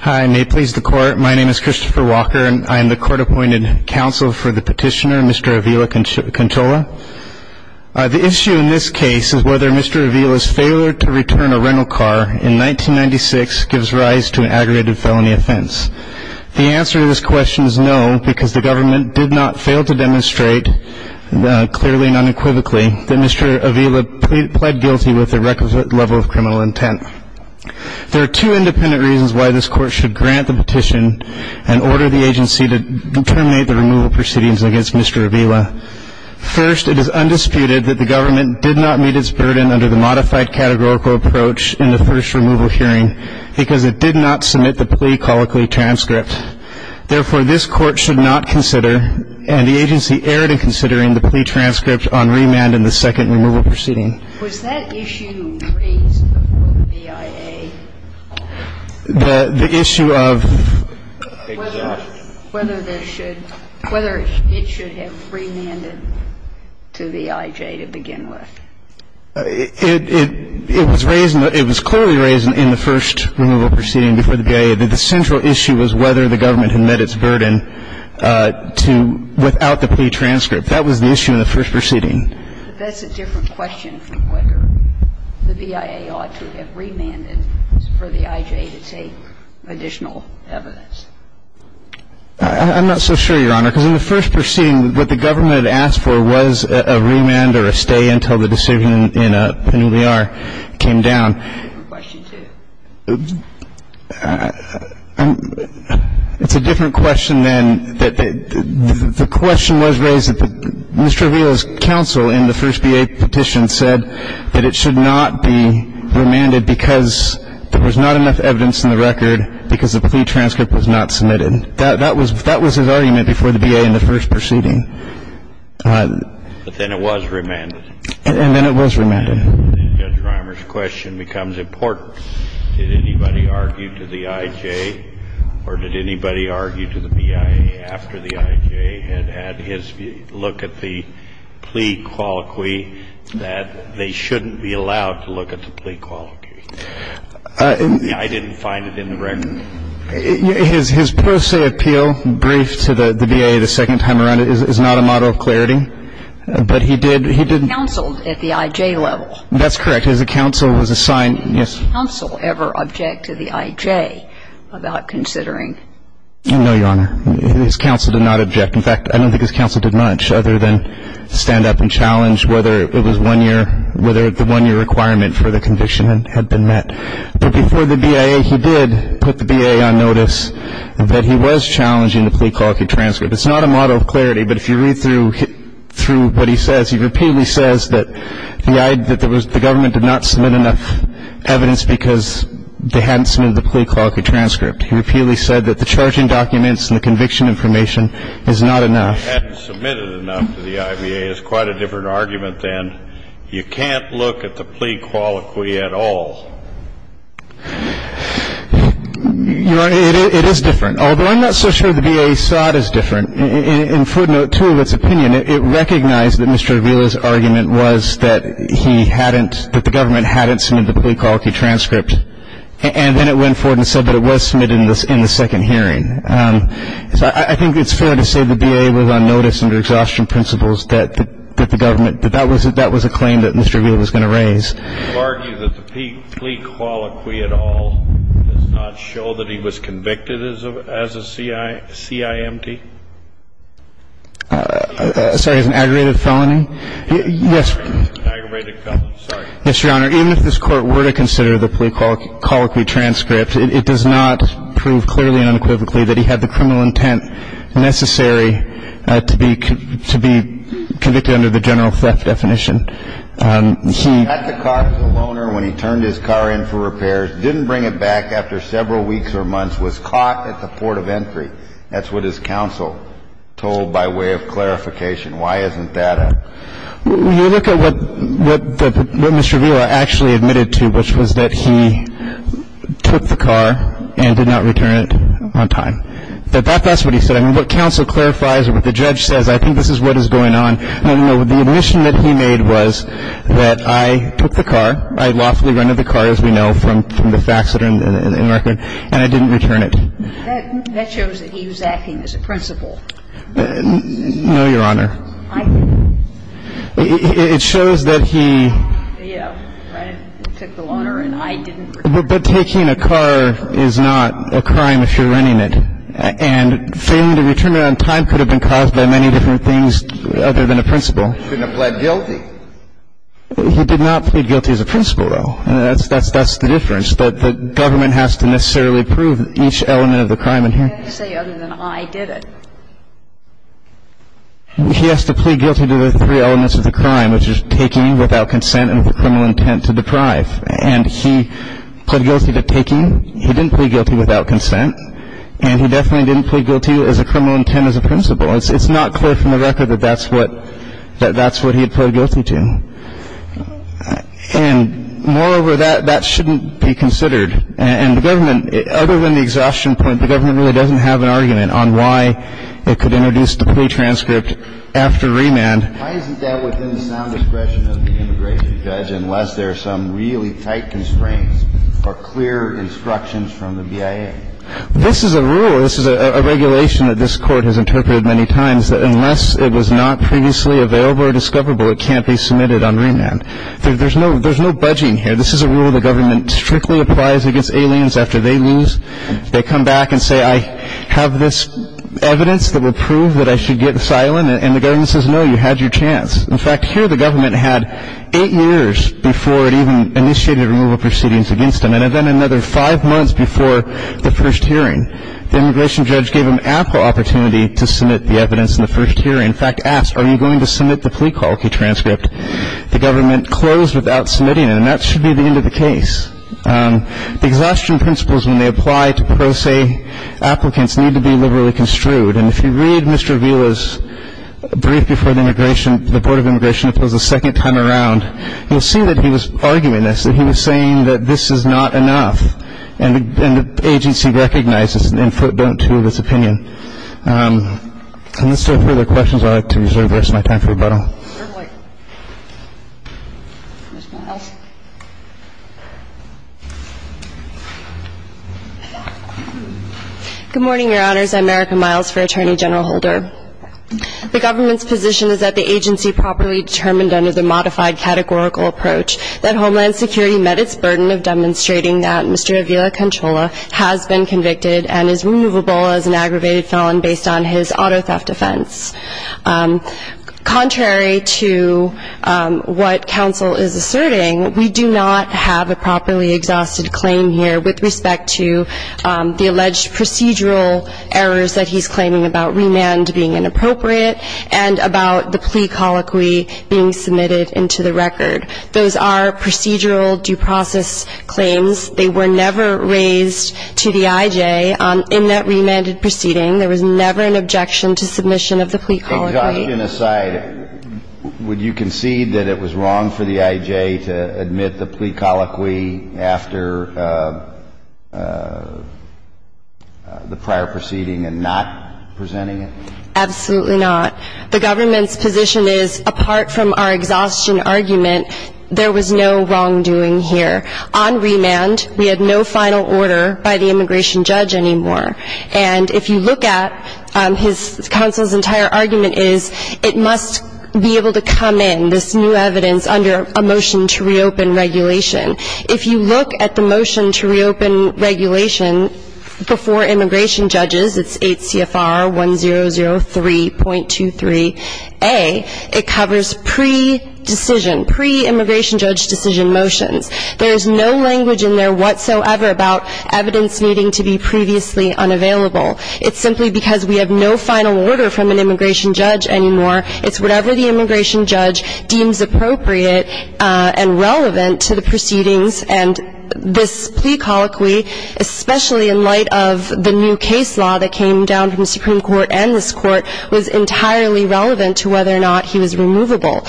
Hi, and may it please the court, my name is Christopher Walker, and I am the court-appointed counsel for the petitioner, Mr. Avila-Canchola. The issue in this case is whether Mr. Avila's failure to return a rental car in 1996 gives rise to an aggravated felony offense. The answer to this question is no, because the government did not fail to demonstrate, clearly and unequivocally, that Mr. Avila pled guilty with a requisite level of criminal intent. There are two independent reasons why this court should grant the petition and order the agency to terminate the removal proceedings against Mr. Avila. First, it is undisputed that the government did not meet its burden under the modified categorical approach in the first removal hearing because it did not submit the plea colloquy transcript. Therefore, this court should not consider, and the agency erred in considering, the plea transcript on remand in the second removal proceeding. Was that issue raised before the BIA? The issue of? Exactly. Whether there should, whether it should have remanded to the IJ to begin with. It was raised, it was clearly raised in the first removal proceeding before the BIA that the central issue was whether the government had met its burden to, without the plea transcript. That was the issue in the first proceeding. But that's a different question from whether the BIA ought to have remanded for the IJ to take additional evidence. I'm not so sure, Your Honor, because in the first proceeding, what the government had asked for was a remand or a stay until the decision in a penuliar came down. It's a different question, too. It's a different question than that the question was raised that Mr. Avila's counsel in the first BIA petition said that it should not be remanded because there was not enough evidence in the record, because the plea transcript was not submitted. That was his argument before the BIA in the first proceeding. But then it was remanded. And then it was remanded. And then Judge Reimer's question becomes important. Did anybody argue to the IJ, or did anybody argue to the BIA after the IJ had had his look at the plea colloquy that they shouldn't be allowed to look at the plea colloquy? I didn't find it in the record. His per se appeal briefed to the BIA the second time around is not a model of clarity. But he did, he did. Counsel at the IJ level. That's correct. His counsel was assigned. Yes. Did his counsel ever object to the IJ about considering? No, Your Honor. His counsel did not object. In fact, I don't think his counsel did much other than stand up and challenge whether it was one year, whether the one-year requirement for the conviction had been met. But before the BIA, he did put the BIA on notice that he was challenging the plea colloquy transcript. It's not a model of clarity, but if you read through what he says, he repeatedly says that the government did not submit enough evidence because they hadn't submitted the plea colloquy transcript. He repeatedly said that the charging documents and the conviction information is not enough. Hadn't submitted enough to the IBA is quite a different argument than you can't look at the plea colloquy at all. Your Honor, it is different. Although I'm not so sure the BIA saw it as different. In footnote 2 of its opinion, it recognized that Mr. Avila's argument was that he hadn't, that the government hadn't submitted the plea colloquy transcript. And then it went forward and said that it was submitted in the second hearing. So I think it's fair to say the BIA was on notice under exhaustion principles that the government, that that was a claim that Mr. Avila was going to raise. You argue that the plea colloquy at all does not show that he was convicted as a CIMT? Sorry, as an aggravated felony? Yes. Aggravated felony, sorry. Yes, Your Honor. Even if this Court were to consider the plea colloquy transcript, it does not prove clearly and unequivocally that he had the criminal intent necessary to be convicted under the general theft definition. He got the car from the loaner when he turned his car in for repairs, didn't bring it back after several weeks or months, was caught at the port of entry. That's what his counsel told by way of clarification. Why isn't that a? You look at what Mr. Avila actually admitted to, which was that he took the car and did not return it on time. That's what he said. I mean, what counsel clarifies or what the judge says, I think this is what is going on. No, no, no. The admission that he made was that I took the car, I lawfully rented the car, as we know, from the facts that are in the record, and I didn't return it. That shows that he was acting as a principal. No, Your Honor. I didn't. It shows that he. Yeah, right. He took the loaner and I didn't return it. But taking a car is not a crime if you're renting it. And failing to return it on time could have been caused by many different things other than a principal. He couldn't have pled guilty. He did not plead guilty as a principal, though. That's the difference. The government has to necessarily prove each element of the crime in here. I'm not going to say other than I did it. He has to plead guilty to the three elements of the crime, which is taking without consent and with a criminal intent to deprive. And he pled guilty to taking. He didn't plead guilty without consent. And he definitely didn't plead guilty as a criminal intent as a principal. It's not clear from the record that that's what he had pled guilty to. And, moreover, that shouldn't be considered. And the government, other than the exhaustion point, the government really doesn't have an argument on why it could introduce the plea transcript after remand. Why isn't that within the sound discretion of the immigration judge unless there are some really tight constraints or clear instructions from the BIA? This is a rule. This is a regulation that this Court has interpreted many times that unless it was not previously available or discoverable, it can't be submitted on remand. There's no budging here. This is a rule the government strictly applies against aliens after they lose. They come back and say, I have this evidence that will prove that I should get asylum. And the government says, no, you had your chance. In fact, here the government had eight years before it even initiated removal proceedings against him. And then another five months before the first hearing, the immigration judge gave him ample opportunity to submit the evidence in the first hearing. In fact, asked, are you going to submit the plea call key transcript? The government closed without submitting it. And that should be the end of the case. Exhaustion principles, when they apply to pro se applicants, need to be liberally construed. And if you read Mr. Avila's brief before the immigration, the Board of Immigration, if it was the second time around, you'll see that he was arguing this, that he was saying that this is not enough. And the agency recognizes and don't to this opinion. Unless there are further questions, I'd like to reserve the rest of my time for rebuttal. Mr. Miles. Good morning, Your Honors. I'm Erica Miles for Attorney General Holder. The government's position is that the agency properly determined under the modified categorical approach that Homeland Security met its burden of demonstrating that Mr. Avila Conchola has been convicted and is removable as an aggravated felon based on his auto theft offense. Contrary to what counsel is asserting, we do not have a properly exhausted claim here with respect to the alleged procedural errors that he's claiming about remand being inappropriate and about the plea colloquy being submitted into the record. Those are procedural due process claims. They were never raised to the IJ in that remanded proceeding. There was never an objection to submission of the plea colloquy. Exhaustion aside, would you concede that it was wrong for the IJ to admit the plea colloquy after the prior proceeding and not presenting it? Absolutely not. The government's position is, apart from our exhaustion argument, there was no wrongdoing here. On remand, we had no final order by the immigration judge anymore. And if you look at his counsel's entire argument is, it must be able to come in, this new evidence, under a motion to reopen regulation. If you look at the motion to reopen regulation before immigration judges, it's 8 CFR 1003.23a. It covers pre-decision, pre-immigration judge decision motions. There is no language in there whatsoever about evidence needing to be previously unavailable. It's simply because we have no final order from an immigration judge anymore. It's whatever the immigration judge deems appropriate and relevant to the proceedings. And this plea colloquy, especially in light of the new case law that came down from the Supreme Court and this Court, was entirely relevant to whether or not he was removable.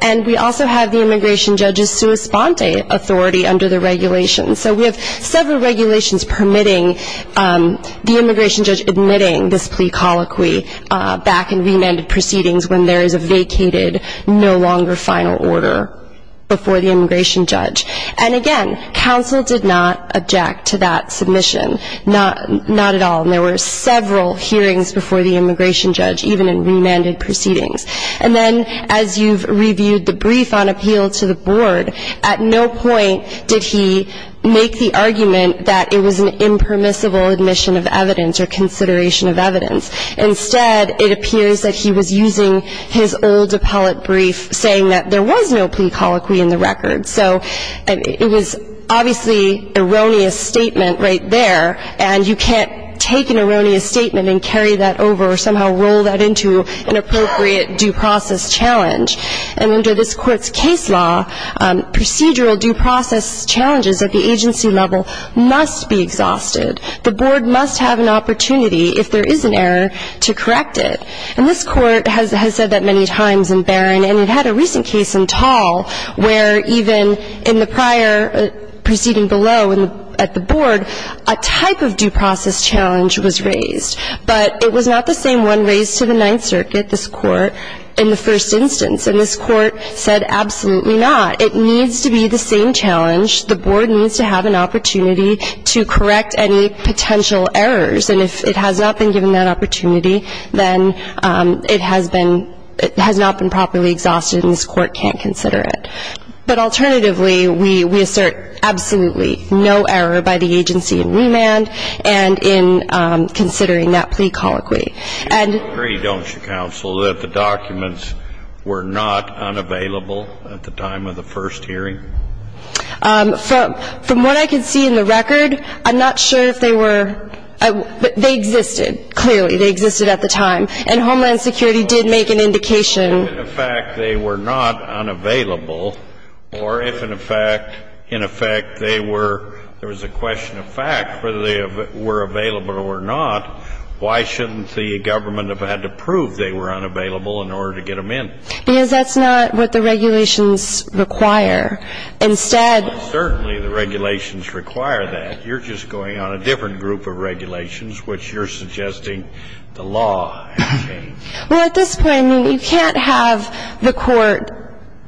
And we also have the immigration judge's sua sponte authority under the regulations. So we have several regulations permitting the immigration judge admitting this plea colloquy back in remanded proceedings when there is a vacated, no longer final order before the immigration judge. And again, counsel did not object to that submission. Not at all. And there were several hearings before the immigration judge, even in remanded proceedings. And then as you've reviewed the brief on appeal to the board, at no point did he make the argument that it was an impermissible admission of evidence or consideration of evidence. Instead, it appears that he was using his old appellate brief saying that there was no plea colloquy in the record. So it was obviously an erroneous statement right there, and you can't take an erroneous statement and carry that over or somehow roll that into an appropriate due process challenge. And under this Court's case law, procedural due process challenges at the agency level must be exhausted. The board must have an opportunity, if there is an error, to correct it. And this Court has said that many times in Barron. And it had a recent case in Tall where even in the prior proceeding below at the board, a type of due process challenge was raised. But it was not the same one raised to the Ninth Circuit, this Court, in the first instance. And this Court said absolutely not. It needs to be the same challenge. The board needs to have an opportunity to correct any potential errors. And if it has not been given that opportunity, then it has been ‑‑ it has not been properly exhausted and this Court can't consider it. But alternatively, we assert absolutely no error by the agency in remand and in considering that plea colloquy. And ‑‑ You agree, don't you, counsel, that the documents were not unavailable at the time of the first hearing? From what I can see in the record, I'm not sure if they were ‑‑ they existed, clearly. They existed at the time. And Homeland Security did make an indication. If in fact they were not unavailable, or if in fact they were ‑‑ there was a question of fact, whether they were available or not, why shouldn't the government have had to prove they were unavailable in order to get them in? Because that's not what the regulations require. Instead ‑‑ Well, certainly the regulations require that. You're just going on a different group of regulations, which you're suggesting the law has changed. Well, at this point, you can't have the court,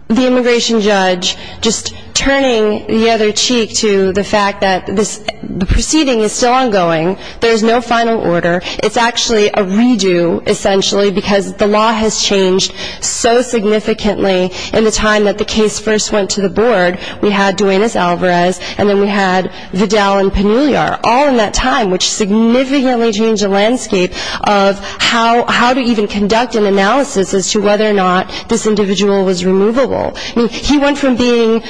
the immigration judge, just turning the other cheek to the fact that the proceeding is still ongoing, there's no final order. It's actually a redo, essentially, because the law has changed so significantly in the time that the case first went to the board. We had Duenas Alvarez, and then we had Vidal and Pannulliar, all in that time, which significantly changed the landscape of how to even conduct an analysis as to whether or not this individual was removable. I mean, he went from being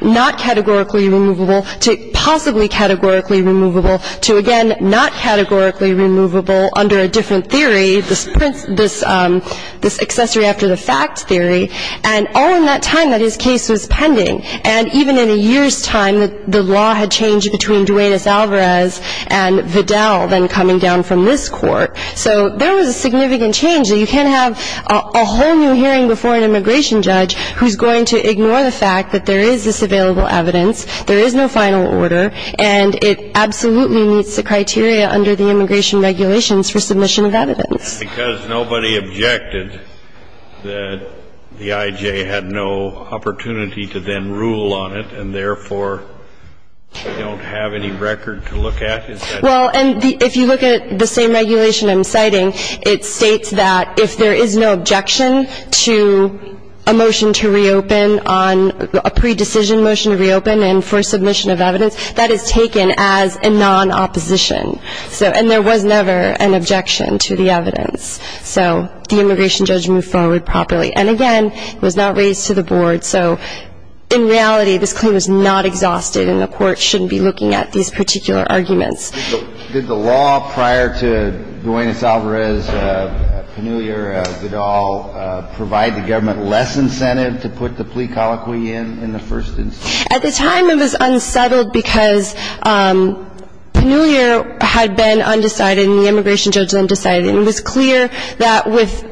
not categorically removable to possibly categorically removable, to, again, not categorically removable under a different theory, this accessory after the fact theory, and all in that time that his case was pending. And even in a year's time, the law had changed between Duenas Alvarez and Vidal then coming down from this court. So there was a significant change that you can't have a whole new hearing before an immigration judge who's going to ignore the fact that there is this available evidence, there is no final order, and it absolutely meets the criteria under the immigration regulations for submission of evidence. Because nobody objected that the I.J. had no opportunity to then rule on it and therefore don't have any record to look at? Well, and if you look at the same regulation I'm citing, it states that if there is no objection to a motion to reopen on a pre-decision motion to reopen and for submission of evidence, that is taken as a non-opposition. And there was never an objection to the evidence. So the immigration judge moved forward properly. And, again, it was not raised to the board. So in reality, this claim was not exhausted, and the court shouldn't be looking at these particular arguments. Did the law prior to Duenas Alvarez, Pannullier, Vidal, provide the government less incentive to put the plea colloquy in in the first instance? At the time, it was unsettled because Pannullier had been undecided and the immigration judge undecided. And it was clear that with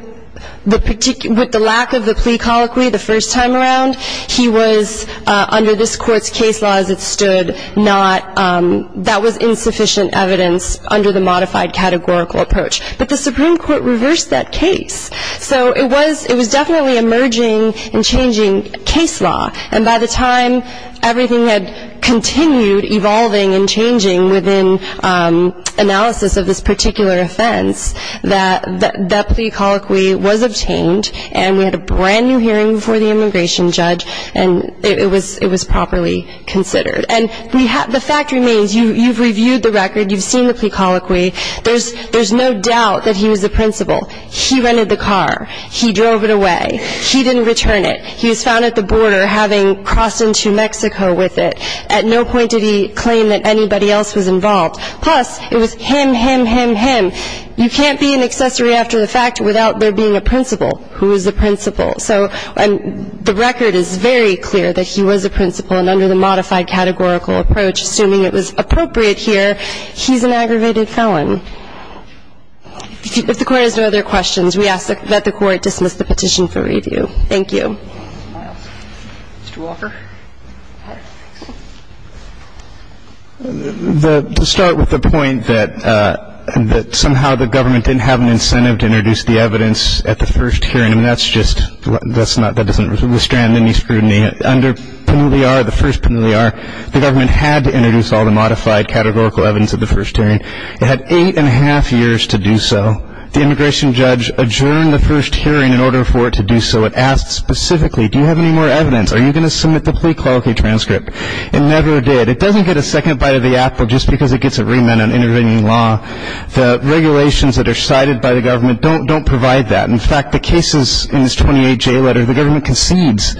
the lack of the plea colloquy the first time around, he was, under this court's case law as it stood, that was insufficient evidence under the modified categorical approach. But the Supreme Court reversed that case. So it was definitely emerging and changing case law. And by the time everything had continued evolving and changing within analysis of this particular offense, that plea colloquy was obtained, and we had a brand-new hearing before the immigration judge, and it was properly considered. And the fact remains, you've reviewed the record, you've seen the plea colloquy. There's no doubt that he was the principal. He rented the car. He drove it away. He didn't return it. He was found at the border having crossed into Mexico with it. At no point did he claim that anybody else was involved. Plus, it was him, him, him, him. You can't be an accessory after the fact without there being a principal. Who is the principal? So the record is very clear that he was a principal, and under the modified categorical approach, assuming it was appropriate here, he's an aggravated felon. If the Court has no other questions, we ask that the Court dismiss the petition for review. Thank you. To start with the point that somehow the government didn't have an incentive to introduce the evidence at the first hearing, I mean, that's just, that's not, that doesn't restrain any scrutiny. Under PANILI-R, the first PANILI-R, the government had to introduce all the modified categorical evidence at the first hearing. It had eight and a half years to do so. The immigration judge adjourned the first hearing in order for it to do so. It asked specifically, do you have any more evidence? Are you going to submit the plea quality transcript? It never did. It doesn't get a second bite of the apple just because it gets a remand on intervening law. The regulations that are cited by the government don't provide that. In fact, the cases in this 28-J letter, the government concedes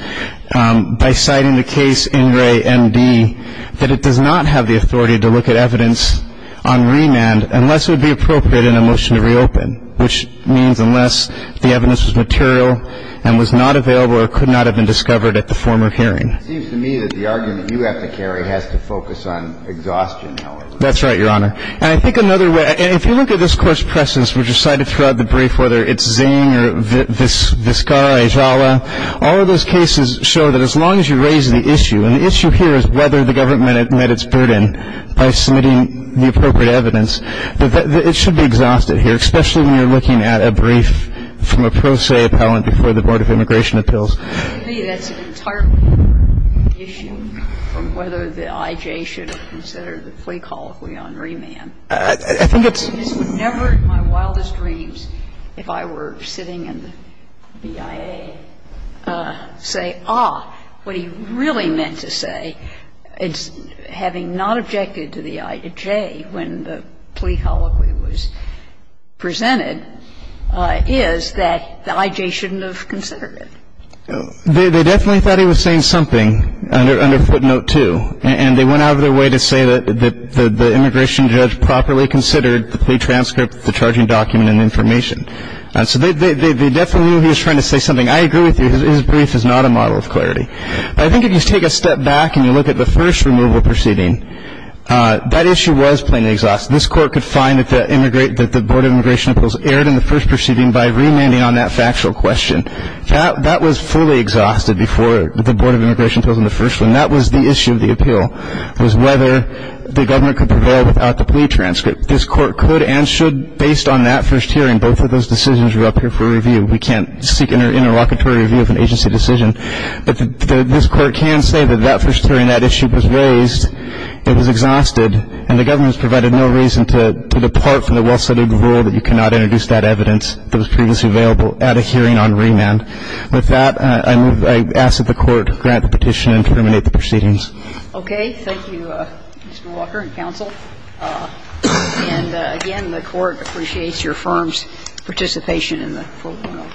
by citing the case INRE MD that it does not have the authority to look at evidence on remand unless it would be appropriate in a motion to reopen, which means unless the evidence was material and was not available or could not have been discovered at the former hearing. It seems to me that the argument you have to carry has to focus on exhaustion, however. That's right, Your Honor. And I think another way, and if you look at this Court's presence, which are cited throughout the brief, whether it's Zane or Vizcarra, Ejala, all of those cases show that as long as you raise the issue, and the issue here is whether the government met its burden by submitting the appropriate evidence, it should be exhausted here, especially when you're looking at a brief from a pro se appellant before the Board of Immigration Appeals. To me, that's an entirely different issue from whether the I.J. should have considered the plea call if we were on remand. I think it's never in my wildest dreams if I were sitting in the BIA say, ah, what he really meant to say is having not objected to the I.J. when the plea colloquy was presented is that the I.J. shouldn't have considered it. They definitely thought he was saying something under footnote 2, and they went out of their way to say that the immigration judge properly considered the plea transcript, the charging document and information. So they definitely knew he was trying to say something. I agree with you. His brief is not a model of clarity. I think if you take a step back and you look at the first removal proceeding, that issue was plainly exhaustive. This court could find that the Board of Immigration Appeals erred in the first proceeding by remanding on that factual question. That was fully exhausted before the Board of Immigration Appeals in the first one. That was the issue of the appeal was whether the governor could prevail without the plea transcript. This court could and should, based on that first hearing, both of those decisions were up here for review. We can't seek an interlocutory review of an agency decision. But this court can say that that first hearing, that issue was raised. It was exhausted. And the government has provided no reason to depart from the well-studied rule that you cannot introduce that evidence that was previously available at a hearing on remand. With that, I move I ask that the Court grant the petition and terminate the proceedings. Okay. Thank you, Mr. Walker and counsel. And, again, the Court appreciates your firm's participation in the full panel.